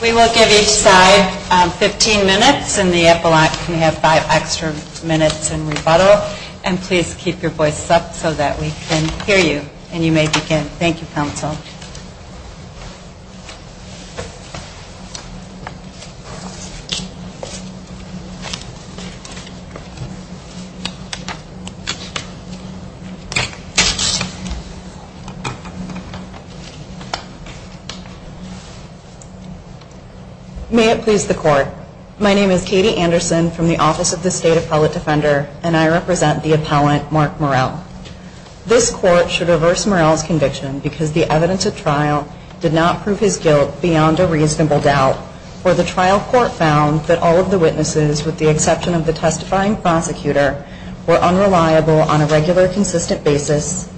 We will give each side 15 minutes, and the epilogue can have 5 extra minutes in rebuttal. And please keep your voices up so that we can hear you, and you may begin. Thank you, counsel. May it please the court. My name is Katie Anderson from the Office of the State Appellate Defender, and I represent the appellant Mark Murrell. This court should reverse Murrell's conviction because the evidence at trial did not prove his guilt beyond a reasonable doubt, or the trial court found that all of the witnesses, with the exception of the testifying prosecutor, were unreliable on a regular, consistent basis,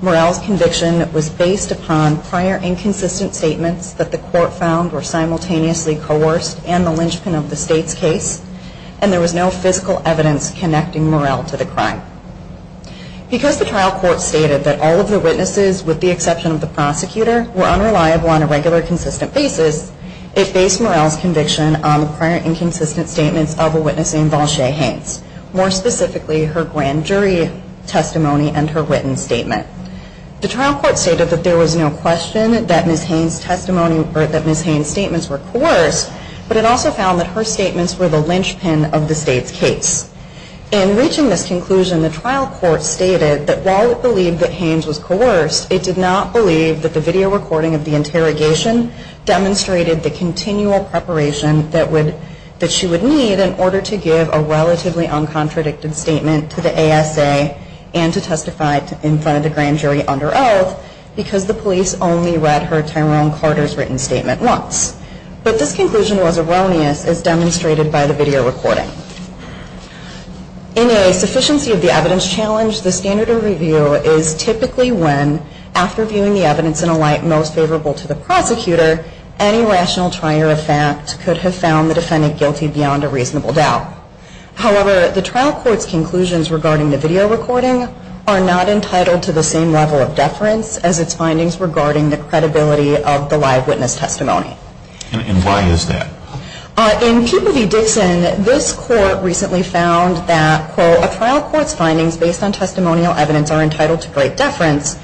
Murrell's conviction was based upon prior inconsistent statements that the court found were simultaneously coerced and the linchpin of the State's case, and there was no physical evidence connecting Murrell to the crime. Because the trial court stated that all of the witnesses, with the exception of the prosecutor, were unreliable on a regular, consistent basis, it based Murrell's conviction on the prior inconsistent statements of a witness named Valshay Haynes, more specifically her grand jury testimony and her written statement. The trial court stated that there was no question that Ms. Haynes' statements were coerced, but it also found that her statements were the linchpin of the State's case. In reaching this conclusion, the trial court stated that while it believed that Haynes was coerced, it did not believe that the video recording of the interrogation demonstrated the continual preparation that she would need in order to give a relatively uncontradicted statement to the ASA and to testify in front of the grand jury. In a sufficiency of the evidence challenge, the standard of review is typically when, after viewing the evidence in a light most favorable to the prosecutor, any rational trier of fact could have found the defendant guilty beyond a reasonable doubt. However, the trial court's conclusions regarding the video recording are not entitled to the signature of the grand jury under oath, because the police only read her Tyrone Carter's written statement once, but this conclusion was erroneous as demonstrated by the video recording. The trial court's findings based on testimonial evidence are entitled to great deference,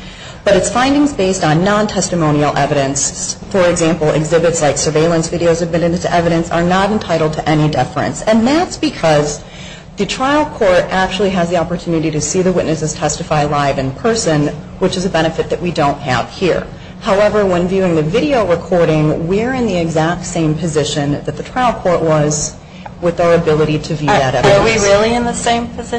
but its findings based on non-testimonial evidence, for example, exhibits like surveillance videos admitted to evidence, are not entitled to any deference. And that's because the trial court actually has the opportunity to see the witnesses testify live in person rather than in court. The trial court's findings based on non-testimonial evidence are not entitled to any deference. However, the trial court's findings based on non-testimonial evidence, exhibits like surveillance videos admitted to evidence, are not entitled to any deference. That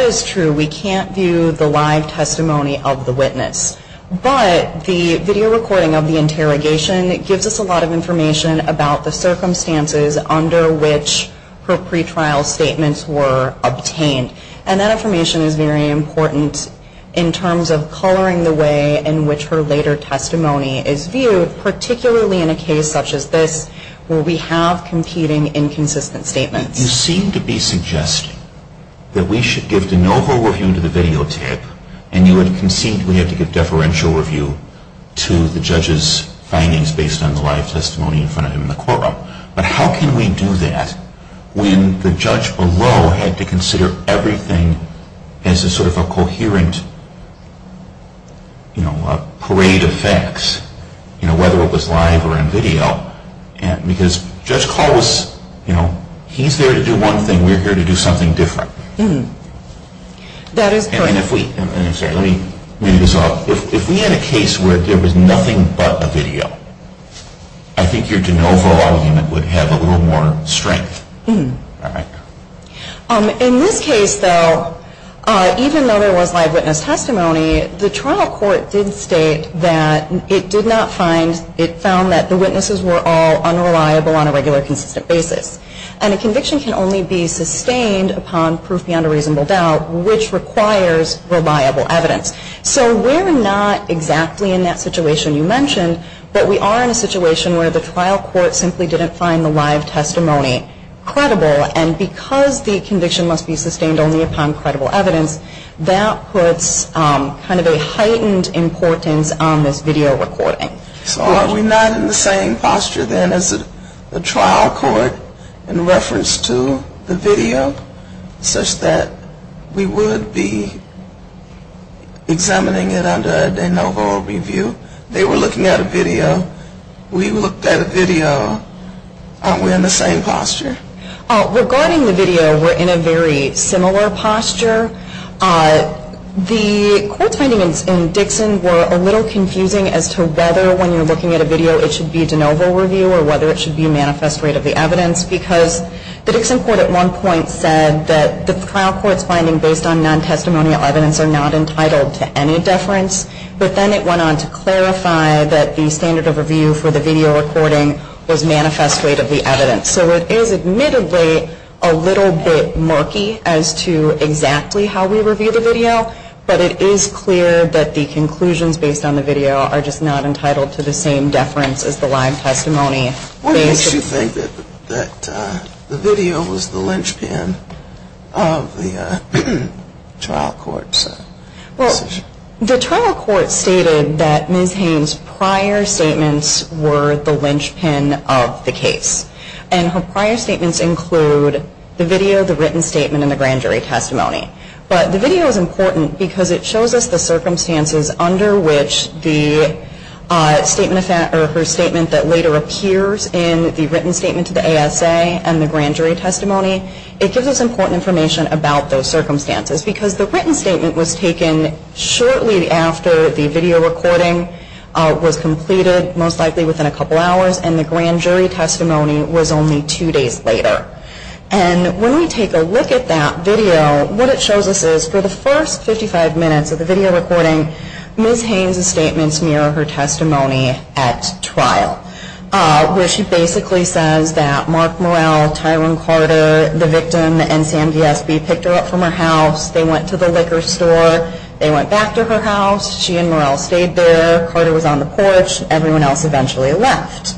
is true. We can't view the live testimony of the witness. But the video recording of the interrogation gives us a lot of information about the circumstances under which her pretrial statements were obtained. And that information is very important in terms of coloring the way in which her later testimony is viewed, particularly in a case such as this where we have competing inconsistent statements. You seem to be suggesting that we should give de novo review to the videotape and you would concede we have to give deferential review to the judge's findings based on the live testimony in front of him in the courtroom. But how can we do that when the judge below had to consider everything as a sort of a coherent parade of facts, whether it was live or in video, because Judge Call was, you know, he's there to do one thing, we're here to do something different. That is correct. If we had a case where there was nothing but a video, I think your de novo argument would have a little more strength. In this case though, even though there was live witness testimony, the trial court did state that it did not find, it found that the witnesses were all unreliable on a regular consistent basis. And a conviction can only be sustained upon proof beyond a reasonable doubt, which requires reliable evidence. So we're not exactly in that situation you mentioned, but we are in a situation where the trial court simply didn't find the live testimony credible. And because the conviction must be sustained only upon credible evidence, that puts kind of a heightened importance on this video recording. So are we not in the same posture then as the trial court in reference to the video, such that we would be examining it under a de novo review? They were looking at a video. We looked at a video. Aren't we in the same posture? Regarding the video, we're in a very similar posture. The court's findings in Dixon were a little confusing as to whether when you're looking at a video it should be de novo review or whether it should be manifest rate of the evidence, because the Dixon court at one point said that the trial court's finding based on non-testimonial evidence are not entitled to any deference, but then it went on to clarify that the standard of review for the video recording was manifest rate of the evidence. So it is admittedly a little bit murky as to exactly how we review the video, but it is clear that the conclusions based on the video are just not entitled to the same deference as the live testimony. What makes you think that the video was the linchpin of the trial court's decision? The trial court stated that Ms. Haynes' prior statements were the linchpin of the case, and her prior statements include the video, the written statement, and the grand jury testimony. But the video is important because it shows us the circumstances under which her statement that later appears in the written statement to the ASA and the grand jury testimony, it gives us important information about those circumstances. Because the written statement was taken shortly after the video recording was completed, most likely within a couple hours, and the grand jury testimony was only two days later. And when we take a look at that video, what it shows us is for the first 55 minutes of the video recording, Ms. Haynes' statements mirror her testimony at trial. Where she basically says that Mark Morrell, Tyrone Carter, the victim, and Sam D.S.B. picked her up from her house, they went to the liquor store, they went back to her house, she and Morrell stayed there, Carter was on the porch, everyone else eventually left.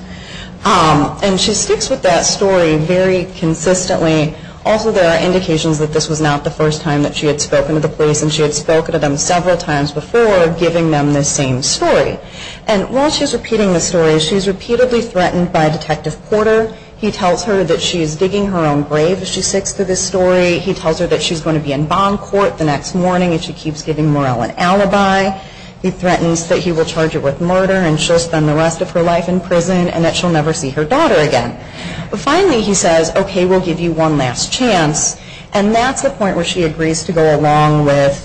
And she sticks with that story very consistently. Also, there are indications that this was not the first time that she had spoken to the police, and she had spoken to them several times before, giving them the same story. And while she's repeating the story, she's repeatedly threatened by Detective Porter. He tells her that she's digging her own grave if she sticks to this story. He tells her that she's going to be in bond court the next morning if she keeps giving Morrell an alibi. He threatens that he will charge her with murder, and she'll spend the rest of her life in prison, and that she'll never see her daughter again. Finally, he says, okay, we'll give you one last chance. And that's the point where she agrees to go along with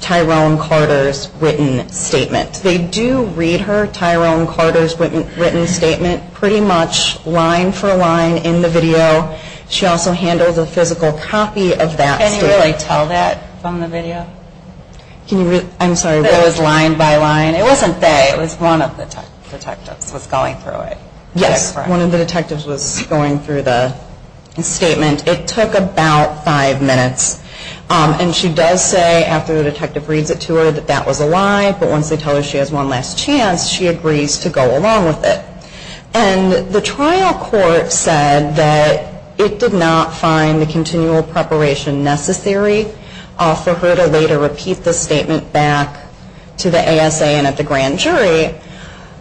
Tyrone Carter's written statement. They do read her Tyrone Carter's written statement pretty much line for line in the video. She also handles a physical copy of that statement. Can you really tell that from the video? I'm sorry, it was line by line? It wasn't they, it was one of the detectives was going through it. Yes, one of the detectives was going through the statement. It took about five minutes, and she does say after the detective reads it to her that that was a lie, but once they tell her she has one last chance, she agrees to go along with it. And the trial court said that it did not find the continual preparation necessary for her to later repeat the statement back to the ASA and at the grand jury.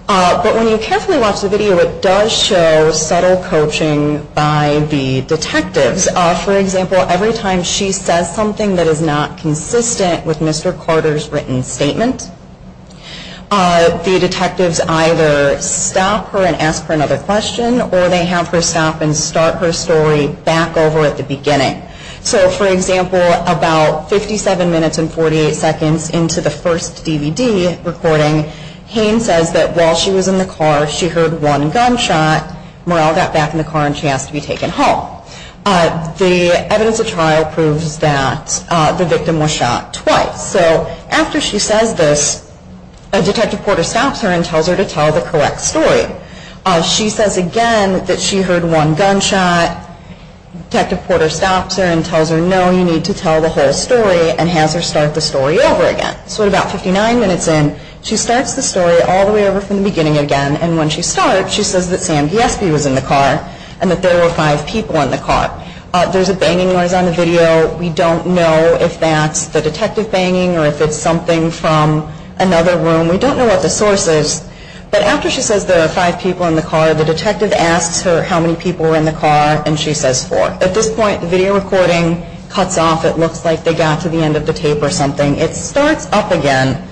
But when you carefully watch the video, it does show subtle coaching by the detectives. For example, every time she says something that is not consistent with Mr. Carter's written statement, the detectives either stop her and ask her another question, or they have her stop and start her story back over at the beginning. So, for example, about 57 minutes and 48 seconds into the first DVD recording, Hayne says that while she was in the car, she heard one gunshot, Morrell got back in the car and she has to be taken home. The evidence of trial proves that the victim was shot twice. So after she says this, Detective Porter stops her and tells her to tell the correct story. She says again that she heard one gunshot. Detective Porter stops her and tells her, no, you need to tell the whole story and has her start the story over again. So at about 59 minutes in, she starts the story all the way over from the beginning again, and when she starts, she says that Sam Giesby was in the car and that there were five people in the car. There's a banging noise on the video. We don't know if that's the detective banging or if it's something from another room. We don't know what the source is, but after she says there are five people in the car, the detective asks her how many people were in the car, and she says four. At this point, the video recording cuts off. It looks like they got to the end of the tape or something. It starts up again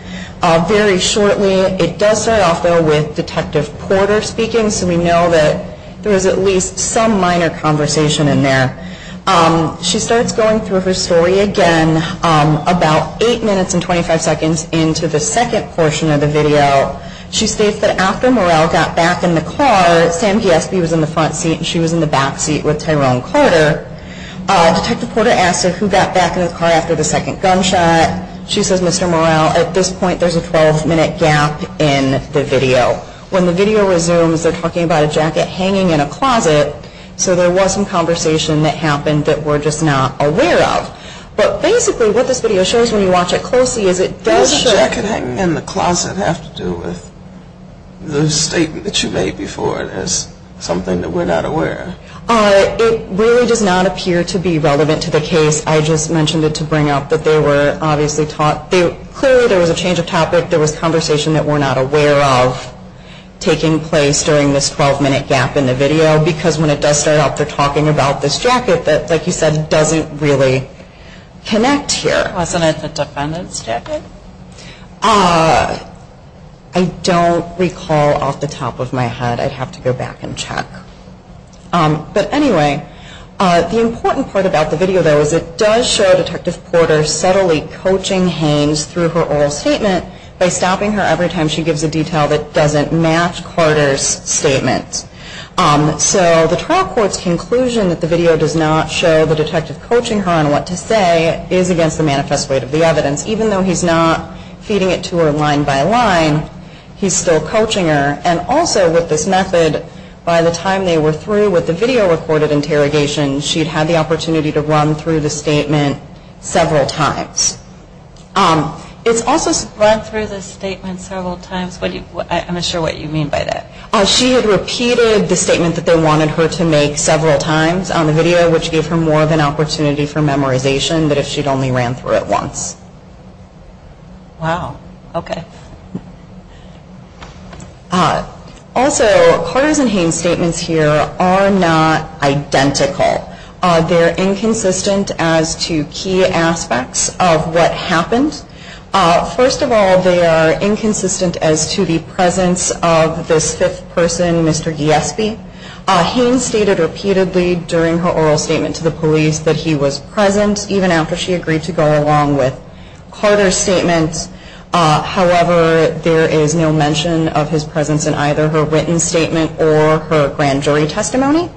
very shortly. It does start off, though, with Detective Porter speaking, so we know that there was at least some minor conversation in there. She starts going through her story again about 8 minutes and 25 seconds into the second portion of the video. She states that after Morrell got back in the car, Sam Giesby was in the front seat and she was in the back seat with Tyrone Carter. Detective Porter asks her who got back in the car after the second gunshot. She says Mr. Morrell. At this point, there's a 12-minute gap in the video. When the video resumes, they're talking about a jacket hanging in a closet, so there was some conversation that happened that we're just not aware of. But basically, what this video shows when you watch it closely is it does show... What does a jacket hanging in the closet have to do with the statement that you made before it as something that we're not aware of? It really does not appear to be relevant to the case. I just mentioned it to bring up that they were obviously taught... Clearly, there was a change of topic. There was conversation that we're not aware of taking place during this 12-minute gap in the video. Because when it does start up, they're talking about this jacket that, like you said, doesn't really connect here. Wasn't it the defendant's jacket? I don't recall off the top of my head. I'd have to go back and check. But anyway, the important part about the video, though, is it does show Detective Porter subtly coaching Haynes through her oral statement by stopping her every time she gives a detail that doesn't match Porter's statement. So the trial court's conclusion that the video does not show the detective coaching her on what to say is against the manifest weight of the evidence. Even though he's not feeding it to her line by line, he's still coaching her. And also with this method, by the time they were through with the video-recorded interrogation, she'd had the opportunity to run through the statement several times. Run through the statement several times? I'm not sure what you mean by that. She had repeated the statement that they wanted her to make several times on the video, which gave her more of an opportunity for memorization than if she'd only ran through it once. Wow. Okay. Also, Porter's and Haynes' statements here are not identical. They're inconsistent as to key aspects of what happened. First of all, they are inconsistent as to the presence of this fifth person, Mr. Giesby. Haynes stated repeatedly during her oral statement to the police that he was present, even after she agreed to go along with Carter's statement. However, there is no mention of his presence in either her written statement or her grand jury testimony.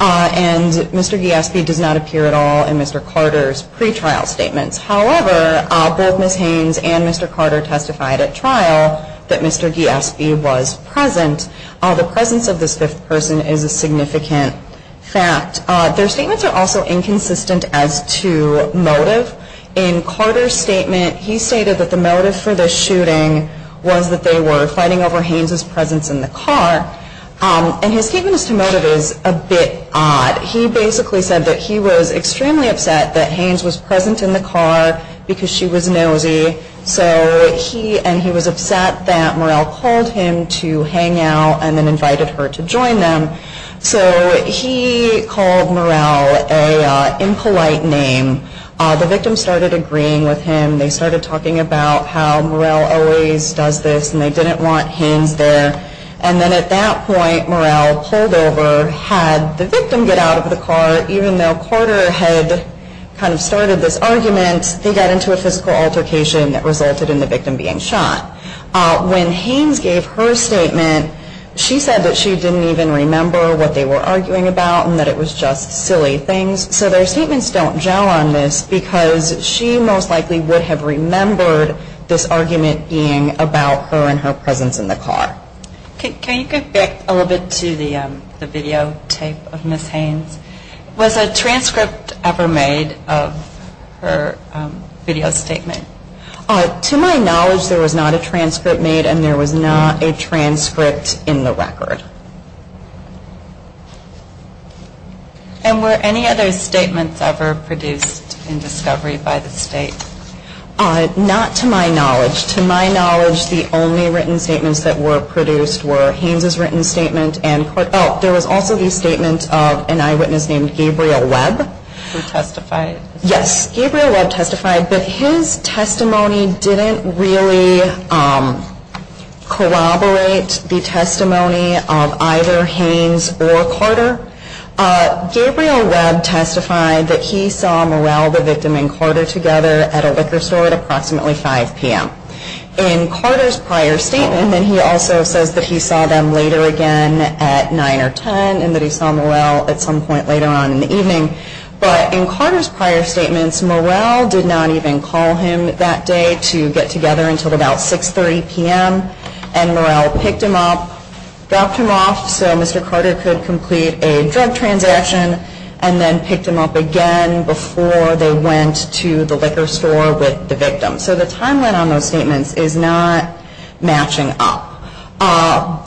And Mr. Giesby does not appear at all in Mr. Carter's pretrial statements. However, both Ms. Haynes and Mr. Carter testified at trial that Mr. Giesby was present. The presence of this fifth person is a significant fact. Their statements are also inconsistent as to motive. In Carter's statement, he stated that the motive for the shooting was that they were fighting over Haynes' presence in the car. And his statement as to motive is a bit odd. He basically said that he was extremely upset that Haynes was present in the car because she was nosy. And he was upset that Murrell called him to hang out and then invited her to join them. So he called Murrell an impolite name. The victim started agreeing with him. They started talking about how Murrell always does this and they didn't want Haynes there. And then at that point, Murrell pulled over, had the victim get out of the car. Even though Carter had kind of started this argument, they got into a physical altercation that resulted in the victim being shot. When Haynes gave her statement, she said that she didn't even remember what they were arguing about and that it was just silly things. So their statements don't gel on this because she most likely would have remembered this argument being about her and her presence in the car. Can you go back a little bit to the videotape of Ms. Haynes? Was a transcript ever made of her video statement? To my knowledge, there was not a transcript made and there was not a transcript in the record. And were any other statements ever produced in discovery by the state? Not to my knowledge. To my knowledge, the only written statements that were produced were Haynes' written statement and there was also the statement of an eyewitness named Gabriel Webb. Who testified? Yes, Gabriel Webb testified, but his testimony didn't really corroborate the testimony of either Haynes or Carter. Gabriel Webb testified that he saw Morell, the victim, and Carter together at a liquor store at approximately 5 p.m. In Carter's prior statement, he also says that he saw them later again at 9 or 10 and that he saw Morell at some point later on in the evening. But in Carter's prior statements, Morell did not even call him that day to get together until about 6.30 p.m. And Morell picked him up, dropped him off so Mr. Carter could complete a drug transaction, and then picked him up again before they went to the liquor store with the victim. So the timeline on those statements is not matching up.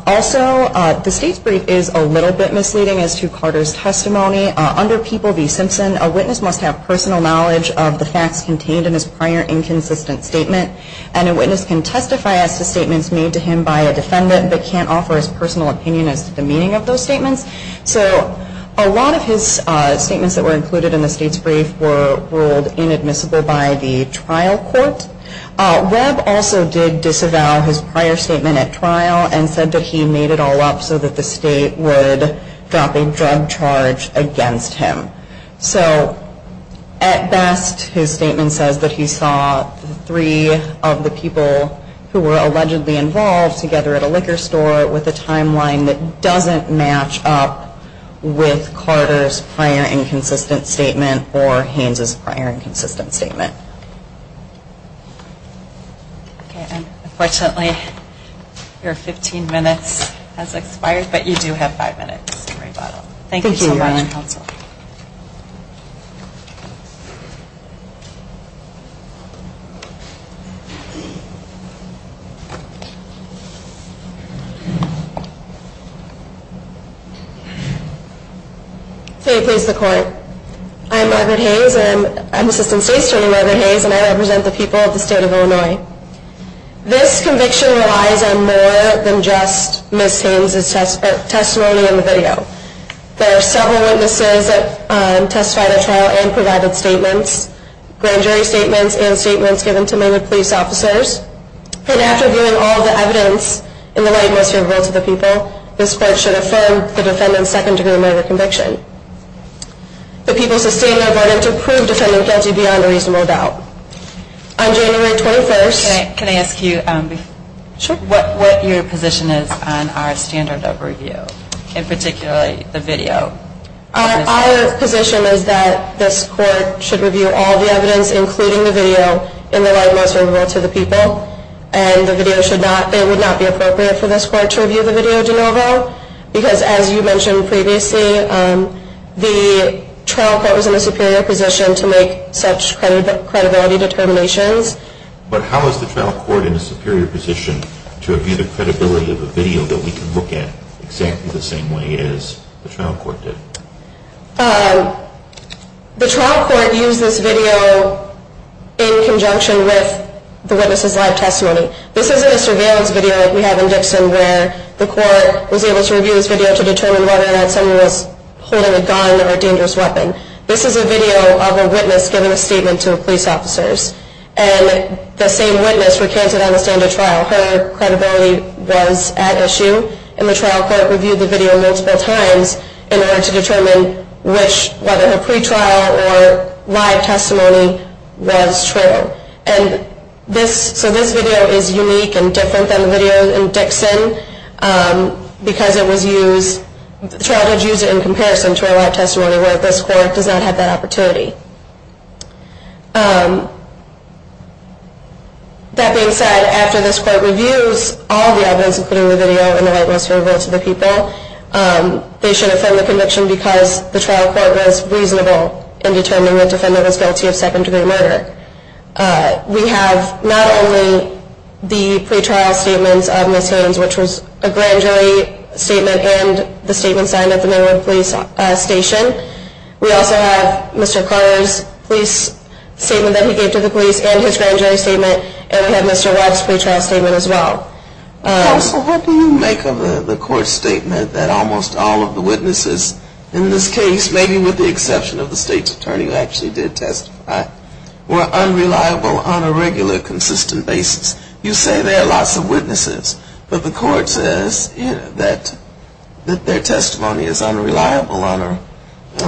Also, the state's brief is a little bit misleading as to Carter's testimony. Under People v. Simpson, a witness must have personal knowledge of the facts contained in his prior inconsistent statement. And a witness can testify as to statements made to him by a defendant, but can't offer his personal opinion as to the meaning of those statements. So a lot of his statements that were included in the state's brief were ruled inadmissible by the trial court. Webb also did disavow his prior statement at trial and said that he made it all up so that the state would drop a drug charge again. So at best, his statement says that he saw three of the people who were allegedly involved together at a liquor store with a timeline that doesn't match up with Carter's prior inconsistent statement or Haines's prior inconsistent statement. Okay, and unfortunately, your 15 minutes has expired, but you do have five minutes to rebuttal. Thank you so much. There are several witnesses that testified at trial and provided statements, grand jury statements and statements given to Maywood police officers. And after viewing all of the evidence in the light and most favorable to the people, this court should affirm the defendant's second degree murder conviction. The people sustain their verdict to prove defendant guilty beyond a reasonable doubt. On January 21st... Our position is that this court should review all the evidence, including the video, in the light and most favorable to the people. And the video should not, it would not be appropriate for this court to review the video de novo. Because as you mentioned previously, the trial court was in a superior position to make such credibility determinations. But how is the trial court in a superior position to review the credibility of a video that we can look at exactly the same way as the trial court? The trial court used this video in conjunction with the witness's live testimony. This isn't a surveillance video like we have in Dixon where the court was able to review this video to determine whether or not someone was holding a gun or a dangerous weapon. This is a video of a witness giving a statement to police officers. And the same witness recanted on the stand at trial. Her credibility was at issue. And the trial court reviewed the video multiple times in order to determine whether her pre-trial or live testimony was true. So this video is unique and different than the video in Dixon. Because the trial did use it in comparison to her live testimony where this court does not have that opportunity. That being said, after this court reviews all of the evidence including the video and the rightness of her vote to the people, they should affirm the conviction because the trial court was reasonable in determining the defendant was guilty of second degree murder. We have not only the pre-trial statements of Ms. Haynes, which was a grand jury statement and the statement signed at the Maryland Police Station. We also have Mr. Carter's police statement that he gave to the police and his grand jury statement. And we have Mr. Webb's pre-trial statement as well. Counsel, what do you make of the court's statement that almost all of the witnesses in this case, maybe with the exception of the state's attorney who actually did testify, were unreliable on a regular consistent basis? You say there are lots of witnesses, but the court says that their testimony is unreliable on a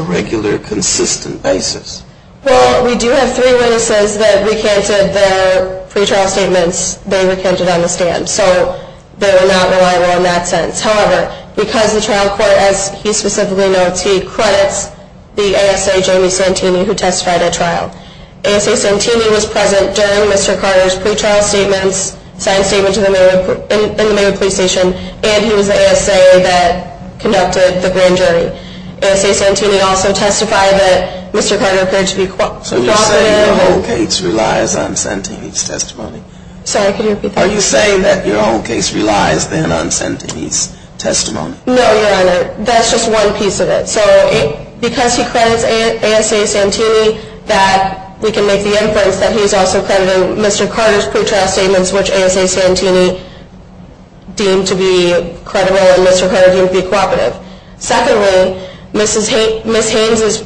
regular consistent basis. Well, we do have three witnesses that recanted their pre-trial statements they recanted on the stand. So they were not reliable in that sense. However, because the trial court, as he specifically notes, he credits the ASA Jamie Santini who testified at trial. ASA Santini was present during Mr. Carter's pre-trial statements, signed statements in the Maryland Police Station, and he was the ASA that conducted the grand jury. ASA Santini also testified that Mr. Carter appeared to be cooperative. So you're saying your whole case relies on Santini's testimony? Sorry, could you repeat that? Are you saying that your whole case relies then on Santini's testimony? No, Your Honor. That's just one piece of it. So because he credits ASA Santini, we can make the inference that he's also crediting Mr. Carter's pre-trial statements, which ASA Santini deemed to be credible and Mr. Carter deemed to be cooperative. Secondly, Ms. Haynes'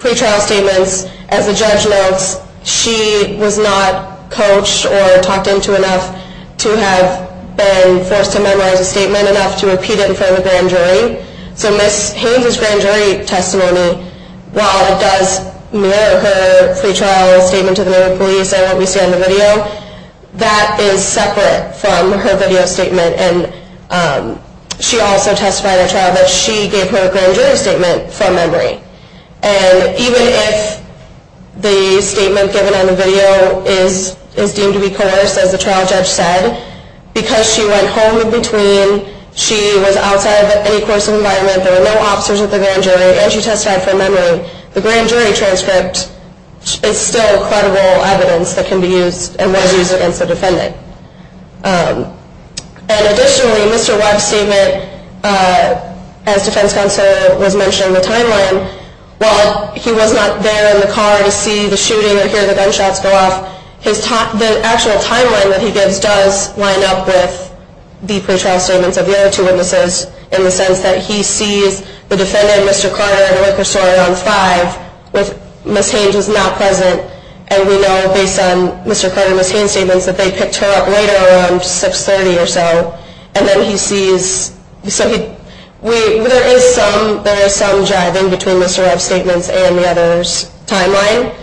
pre-trial statements, as the judge notes, she was not coached or talked into enough to have been forced to memorize a statement enough to repeat it in front of a grand jury. So Ms. Haynes' grand jury testimony, while it does mirror her pre-trial statement to the Maryland Police, and what we see on the video, that is separate from her video statement. She also testified at trial that she gave her grand jury statement from memory. And even if the statement given on the video is deemed to be coerced, as the trial judge said, because she went home in between, she was outside of any coercive environment, there were no officers at the grand jury, and she testified from memory, the grand jury transcript is still credible evidence that can be used and was used against the defendant. And additionally, Mr. Weck's statement, as Defense Counselor was mentioning, the timeline, while he was not there in the car to see the shooting or hear the gunshots go off, the actual timeline that he gives does line up with the pre-trial statements of the other two witnesses, in the sense that he sees the defendant, Mr. Carter, at a liquor store around 5, Ms. Haynes was not present, and we know, based on Mr. Carter and Ms. Haynes' statements, that they picked her up later around 6.30 or so, and then he sees... There is some jive in between Mr. Webb's statements and the other's timeline.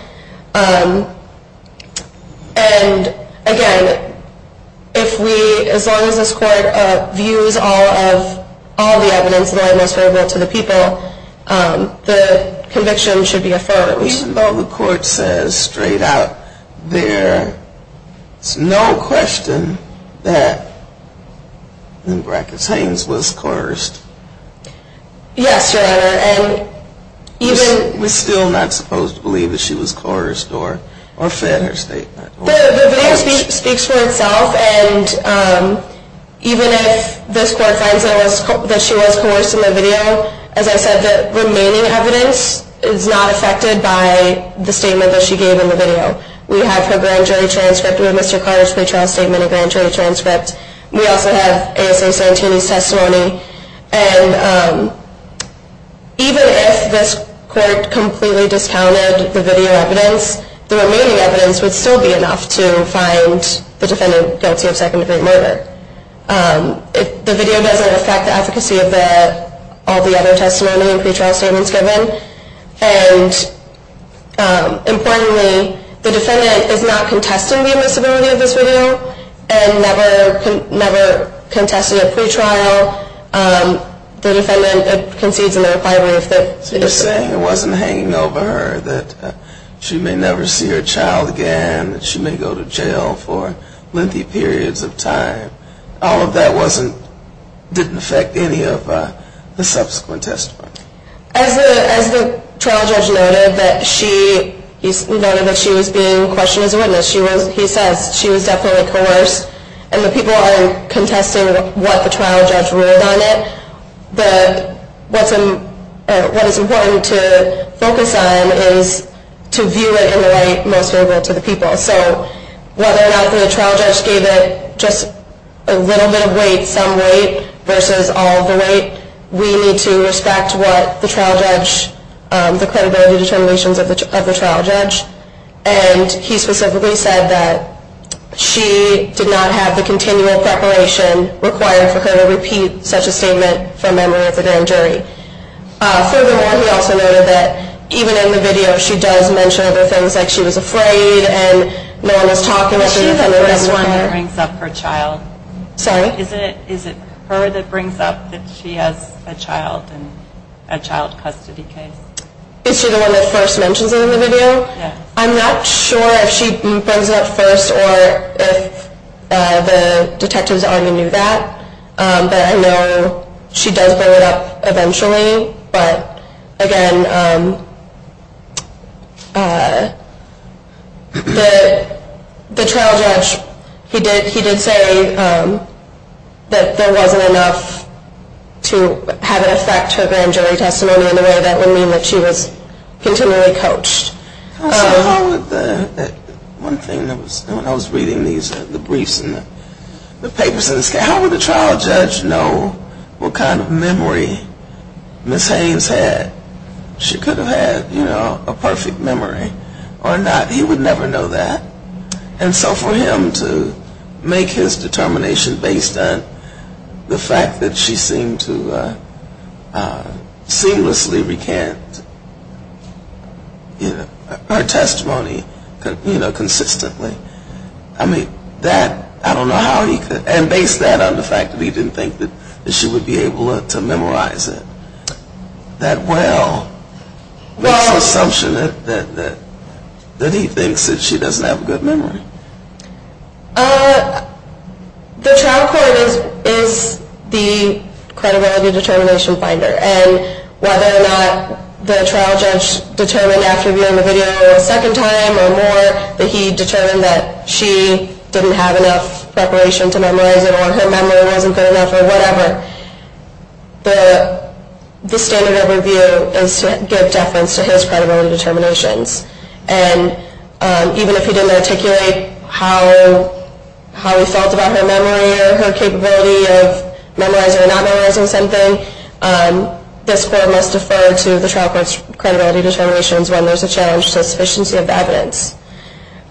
And again, if we, as long as this court views all of the evidence, the way it most favorable to the people, the conviction should be affirmed. The court says, straight out, there is no question that Ms. Haynes was coerced. Yes, Your Honor, and even... We're still not supposed to believe that she was coerced or fed her statement. The video speaks for itself, and even if this court finds that she was coerced in the video, as I said, the remaining evidence is not affected by the statement that she gave in the video. We have her grand jury transcript with Mr. Carter's pre-trial statement and grand jury transcript. We also have ASA Santini's testimony. And even if this court completely discounted the video evidence, the remaining evidence would still be enough to find the defendant guilty of second-degree murder. The video doesn't affect the efficacy of all the other testimony and pre-trial statements given. And importantly, the defendant is not contesting the admissibility of this video and never contested a pre-trial. The defendant concedes in the reply brief that... So you're saying it wasn't hanging over her, that she may never see her child again, that she may go to jail for lengthy periods of time. All of that didn't affect any of the subsequent testimony. As the trial judge noted that she was being questioned as a witness, he says she was definitely coerced, and the people are contesting what the trial judge ruled on it. What is important to focus on is to view it in the light most favorable to the people. So whether or not the trial judge gave it just a little bit of weight, some weight, versus all the weight, we need to respect the credibility determinations of the trial judge. And he specifically said that she did not have the continual preparation required for her to repeat such a statement from memory of the grand jury. Furthermore, he also noted that even in the video she does mention other things like she was afraid and no one was talking with her. Is she the one that brings up her child? Sorry? Is it her that brings up that she has a child in a child custody case? Is she the one that first mentions it in the video? I'm not sure if she brings it up first or if the detectives already knew that, but I know she does bring it up eventually. But again, the trial judge, he did say that there wasn't enough to have it affect her grand jury testimony in a way that would mean that she was continually coached. So how would the, one thing that was, when I was reading these, the briefs and the papers in this case, how would the trial judge know what kind of memory Ms. Haynes had? She could have had, you know, a perfect memory or not. He would never know that. And so for him to make his determination based on the fact that she seemed to seamlessly recant her testimony, you know, consistently, I mean, that, I don't know how he could, and based that on the fact that he didn't think that she would be able to memorize it, that, well, makes the assumption that he thinks that she doesn't have a good memory. The trial court is the credibility determination finder, and whether or not the trial judge determined after viewing the video a second time or more that he determined that she didn't have enough preparation to memorize it or her memory wasn't good enough or whatever, the standard of review is to give deference to his credibility determinations. And even if he didn't articulate how he felt about her memory or her capability of memorizing or not memorizing something, this court must defer to the trial court's credibility determinations when there's a challenge to the sufficiency of the evidence.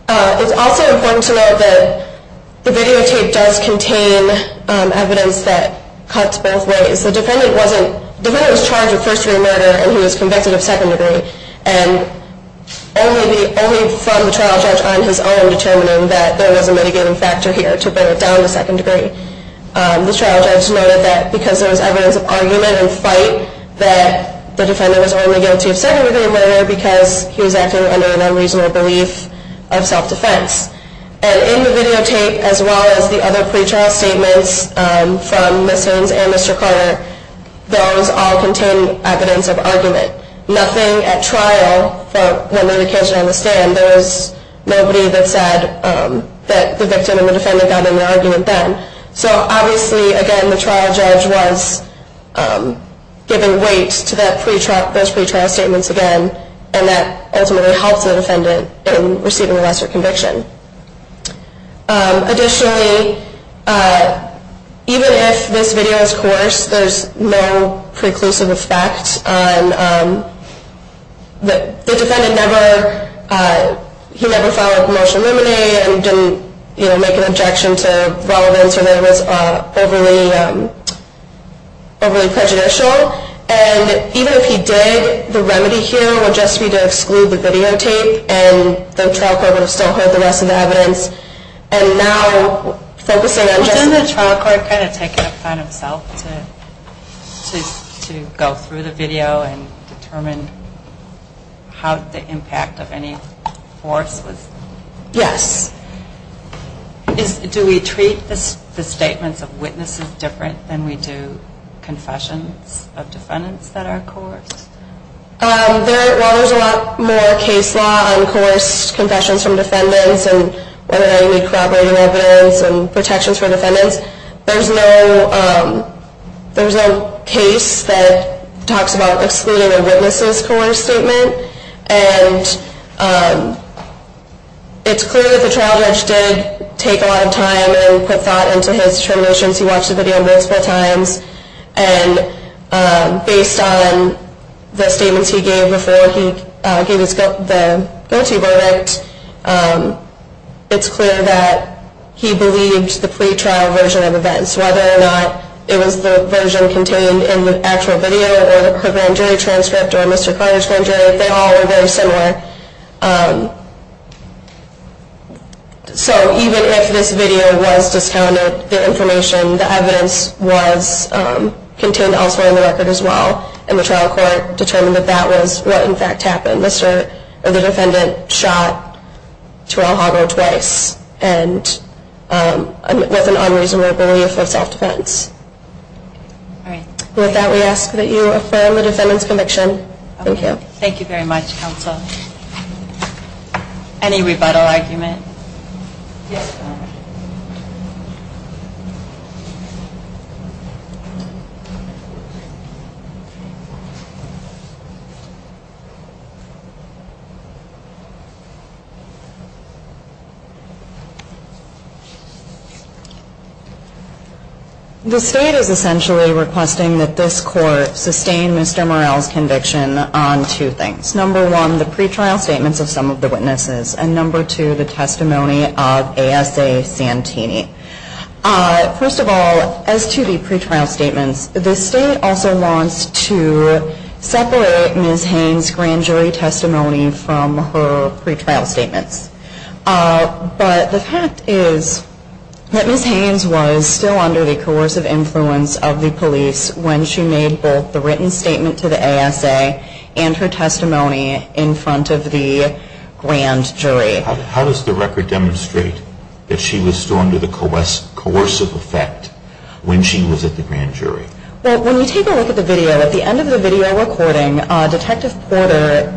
It's also important to note that the videotape does contain evidence that cuts both ways. The defendant wasn't, the defendant was charged with first degree murder and he was convicted of second degree, and only from the trial judge on his own determining that there was a mitigating factor here to bring it down to second degree. The trial judge noted that because there was evidence of argument and fight that the defendant was only guilty of second degree murder because he was acting under an unreasonable belief of self-defense. And in the videotape, as well as the other pretrial statements from Ms. Haynes and Mr. Carter, those all contain evidence of argument. Nothing at trial, from the medication on the stand, there was nobody that said that the victim and the defendant got in an argument then. So obviously, again, the trial judge was giving weight to those pretrial statements again and that ultimately helps the defendant in receiving a lesser conviction. Additionally, even if this video is coerced, there's no preclusive effect on, the defendant never, he never filed a promotional remedy and didn't make an objection to relevance or that it was overly prejudicial. And even if he did, the remedy here would just be to exclude the videotape and the trial court would have still heard the rest of the evidence. And now, focusing on just... Wasn't the trial court kind of taking it upon himself to go through the video and determine how the impact of any force was? Yes. Do we treat the statements of witnesses different than we do confessions of defendants that are coerced? While there's a lot more case law on coerced confessions from defendants and whether they need corroborating evidence and protections for defendants, there's no case that talks about excluding a witness's coerced statement. And it's clear that the trial judge did take a lot of time and put thought into his determinations. He watched the video multiple times. And based on the statements he gave before he gave the guilty verdict, it's clear that he believed the pre-trial version of events, whether or not it was the version contained in the actual video or her grand jury transcript or Mr. Carter's grand jury, they all were very similar. So even if this video was discounted, the information, the evidence, was contained elsewhere in the record as well. And the trial court determined that that was what, in fact, happened. The defendant shot Terrell Hogger twice with an unreasonable belief for self-defense. With that, we ask that you affirm the defendant's conviction. Thank you. Thank you very much, counsel. Any rebuttal argument? Yes, ma'am. The state is essentially requesting that this court sustain Mr. Morell's conviction on two things. Number one, the pre-trial statements of some of the witnesses. And number two, the testimony of ASA Santini. First of all, as to the pre-trial statements, the state also wants to separate Ms. Haynes' grand jury testimony from her pre-trial statements. But the fact is that Ms. Haynes was still under the coercive influence of the police when she made both the written statement to the ASA and her testimony in front of the grand jury. How does the record demonstrate that she was still under the coercive effect when she was at the grand jury? Well, when you take a look at the video, at the end of the video recording, Detective Porter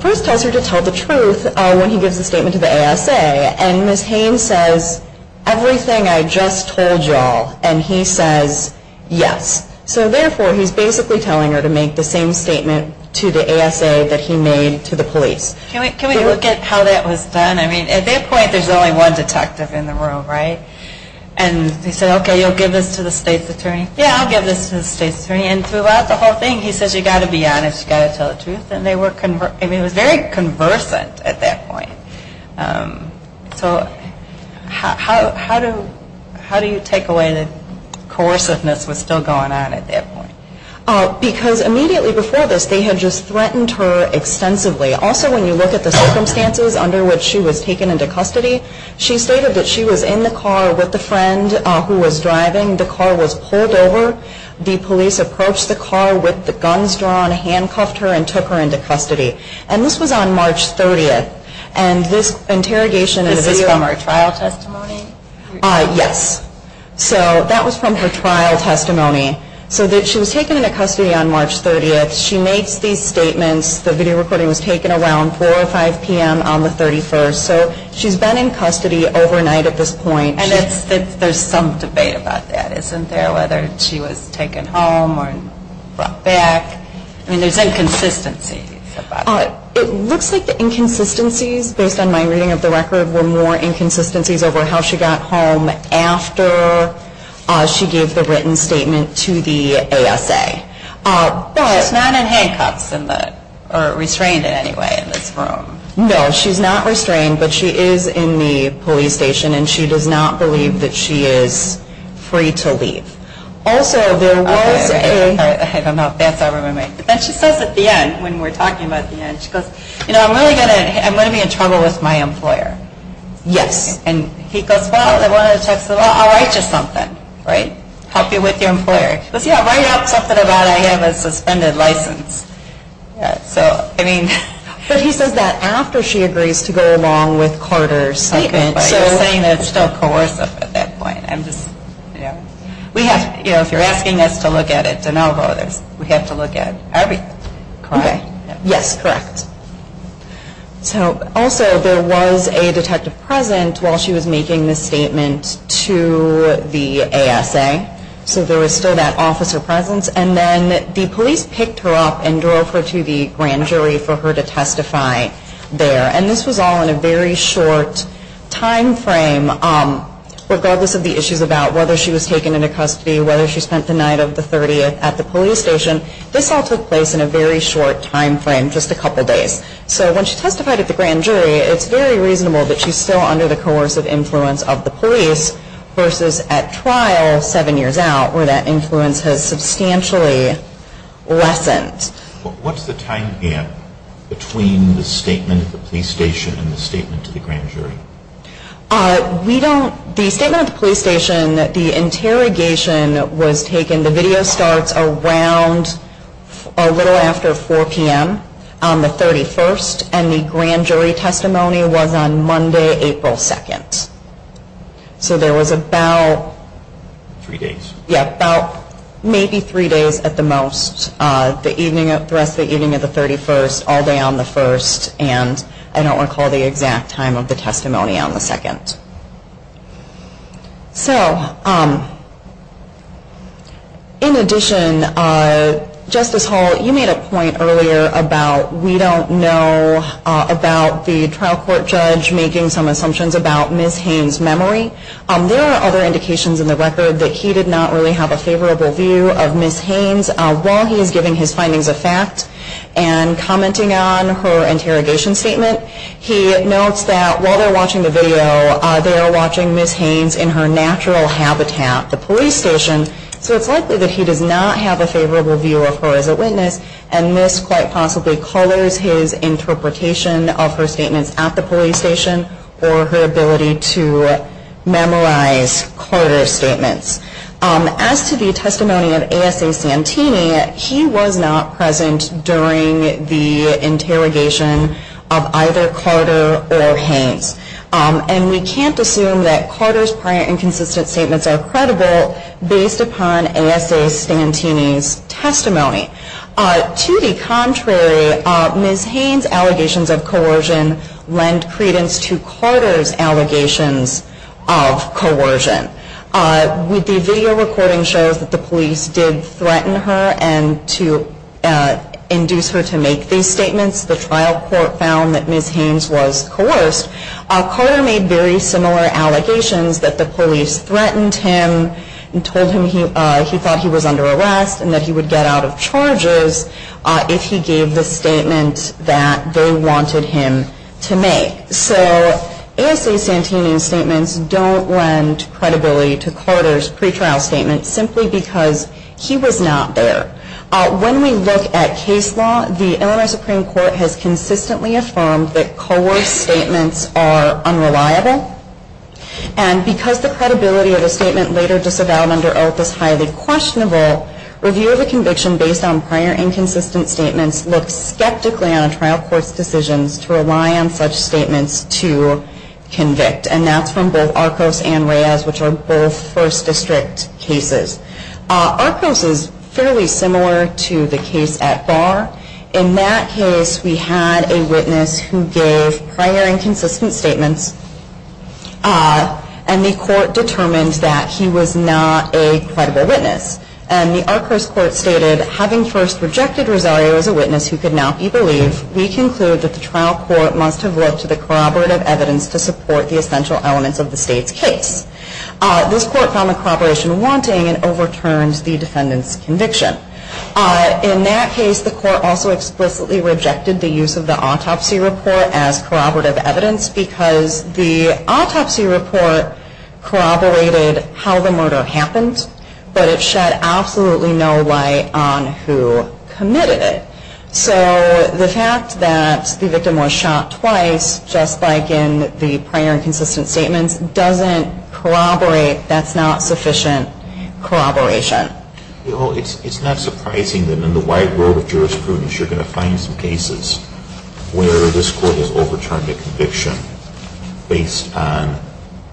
first tells her to tell the truth when he gives the statement to the ASA. And Ms. Haynes says, everything I just told you all. And he says, yes. So therefore, he's basically telling her to make the same statement to the ASA that he made to the police. Can we look at how that was done? I mean, at that point, there's only one detective in the room, right? And he said, okay, you'll give this to the state's attorney? Yeah, I'll give this to the state's attorney. And throughout the whole thing, he says, you've got to be honest. You've got to tell the truth. I mean, it was very conversant at that point. So how do you take away that coerciveness was still going on at that point? Because immediately before this, they had just threatened her extensively. Also, when you look at the circumstances under which she was taken into custody, she stated that she was in the car with a friend who was driving. The car was pulled over. The police approached the car with the guns drawn, handcuffed her, and took her into custody. And this was on March 30th. And this interrogation is from her trial testimony? Yes. So that was from her trial testimony. So she was taken into custody on March 30th. She makes these statements. The video recording was taken around 4 or 5 p.m. on the 31st. So she's been in custody overnight at this point. And there's some debate about that, isn't there? Whether she was taken home or brought back. I mean, there's inconsistencies about that. It looks like the inconsistencies, based on my reading of the record, were more inconsistencies over how she got home after she gave the written statement to the ASA. She's not in handcuffs or restrained in any way in this room. No, she's not restrained. But she is in the police station, and she does not believe that she is free to leave. Also, there was a... I don't know if that's all right with my mind. But then she says at the end, when we're talking about the end, she goes, you know, I'm really going to be in trouble with my employer. Yes. And he goes, well, I want to text the law. I'll write you something. Right? Help you with your employer. He goes, yeah, write up something about I have a suspended license. So, I mean... But he says that after she agrees to go along with Carter's statement. I was saying that it's still coercive at that point. I'm just, you know. We have, you know, if you're asking us to look at it de novo, we have to look at everything. Okay. Yes, correct. So, also, there was a detective present while she was making this statement to the ASA. So, there was still that officer presence. And then the police picked her up and drove her to the grand jury for her to testify there. And this was all in a very short time frame, regardless of the issues about whether she was taken into custody, whether she spent the night of the 30th at the police station. This all took place in a very short time frame, just a couple days. So, when she testified at the grand jury, it's very reasonable that she's still under the coercive influence of the police versus at trial seven years out where that influence has substantially lessened. What's the time gap between the statement at the police station and the statement to the grand jury? We don't, the statement at the police station, the interrogation was taken, the video starts around a little after 4 p.m. on the 31st, and the grand jury testimony was on Monday, April 2nd. So, there was about maybe three days at the most, the rest of the evening of the 31st, all day on the 1st, and I don't recall the exact time of the testimony on the 2nd. So, in addition, Justice Hall, you made a point earlier about we don't know about the trial court judge making some assumptions about Ms. Haynes' memory. There are other indications in the record that he did not really have a favorable view of Ms. Haynes while he was giving his findings of fact and commenting on her interrogation statement. He notes that while they're watching the video, they are watching Ms. Haynes in her natural habitat, the police station, so it's likely that he does not have a favorable view of her as a witness, and this quite possibly colors his interpretation of her statements at the police station or her ability to memorize Carter's statements. As to the testimony of A.S.A. Santini, he was not present during the interrogation of either Carter or Haynes, and we can't assume that Carter's prior inconsistent statements are credible based upon A.S.A. Santini's testimony. To the contrary, Ms. Haynes' allegations of coercion lend credence to Carter's allegations of coercion. The video recording shows that the police did threaten her and to induce her to make these statements. The trial court found that Ms. Haynes was coerced. Carter made very similar allegations that the police threatened him and told him he thought he was under arrest and that he would get out of charges if he gave the statement that they wanted him to make. So A.S.A. Santini's statements don't lend credibility to Carter's pretrial statements simply because he was not there. When we look at case law, the Illinois Supreme Court has consistently affirmed that coerced statements are unreliable, and because the credibility of a statement later disavowed under oath is highly questionable, review of a conviction based on prior inconsistent statements looks skeptically on a trial court's decisions to rely on such statements to convict. And that's from both Arcos and Reyes, which are both First District cases. Arcos is fairly similar to the case at Barr. In that case, we had a witness who gave prior inconsistent statements, and the court determined that he was not a credible witness. And the Arcos court stated, having first rejected Rosario as a witness who could not be believed, we conclude that the trial court must have looked to the corroborative evidence to support the essential elements of the state's case. This court found the corroboration wanting and overturned the defendant's conviction. In that case, the court also explicitly rejected the use of the autopsy report as corroborative evidence because the autopsy report corroborated how the murder happened, but it shed absolutely no light on who committed it. So the fact that the victim was shot twice, just like in the prior inconsistent statements, doesn't corroborate that's not sufficient corroboration. Well, it's not surprising that in the wide world of jurisprudence you're going to find some cases where this court has overturned a conviction based on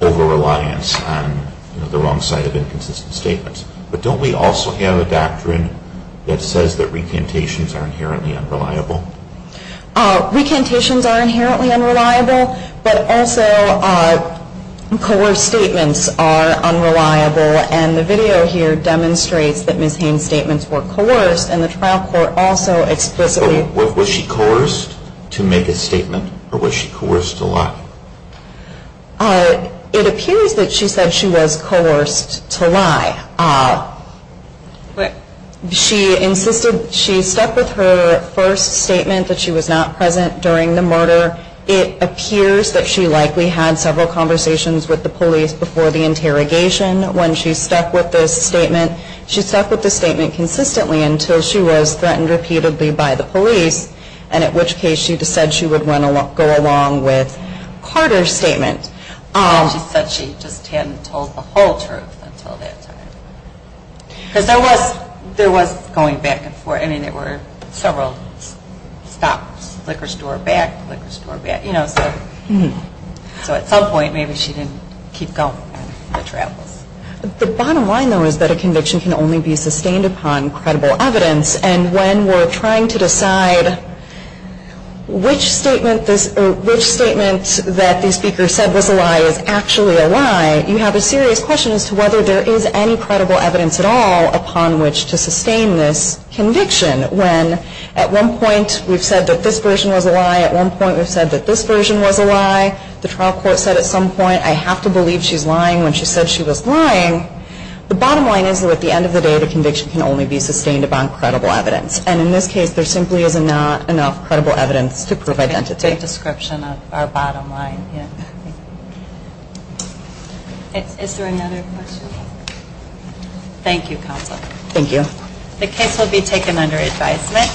over-reliance on the wrong side of inconsistent statements. But don't we also have a doctrine that says that recantations are inherently unreliable? Recantations are inherently unreliable, but also coerced statements are unreliable. And the video here demonstrates that Ms. Hayne's statements were coerced and the trial court also explicitly Was she coerced to make a statement or was she coerced to lie? It appears that she said she was coerced to lie. She insisted she stuck with her first statement that she was not present during the murder. It appears that she likely had several conversations with the police before the interrogation when she stuck with this statement. She stuck with this statement consistently until she was threatened repeatedly by the police, and at which case she said she would go along with Carter's statement. She said she just hadn't told the whole truth until that time. Because there was going back and forth. I mean, there were several stops, liquor store back, liquor store back. So at some point maybe she didn't keep going on the travels. The bottom line, though, is that a conviction can only be sustained upon credible evidence. And when we're trying to decide which statement that the speaker said was a lie is actually a lie, you have a serious question as to whether there is any credible evidence at all upon which to sustain this conviction. When at one point we've said that this version was a lie, at one point we've said that this version was a lie, the trial court said at some point I have to believe she's lying when she said she was lying, the bottom line is that at the end of the day the conviction can only be sustained upon credible evidence. And in this case there simply is not enough credible evidence to prove identity. That's a great description of our bottom line. Is there another question? Thank you, Counselor. Thank you. The case will be taken under advisement.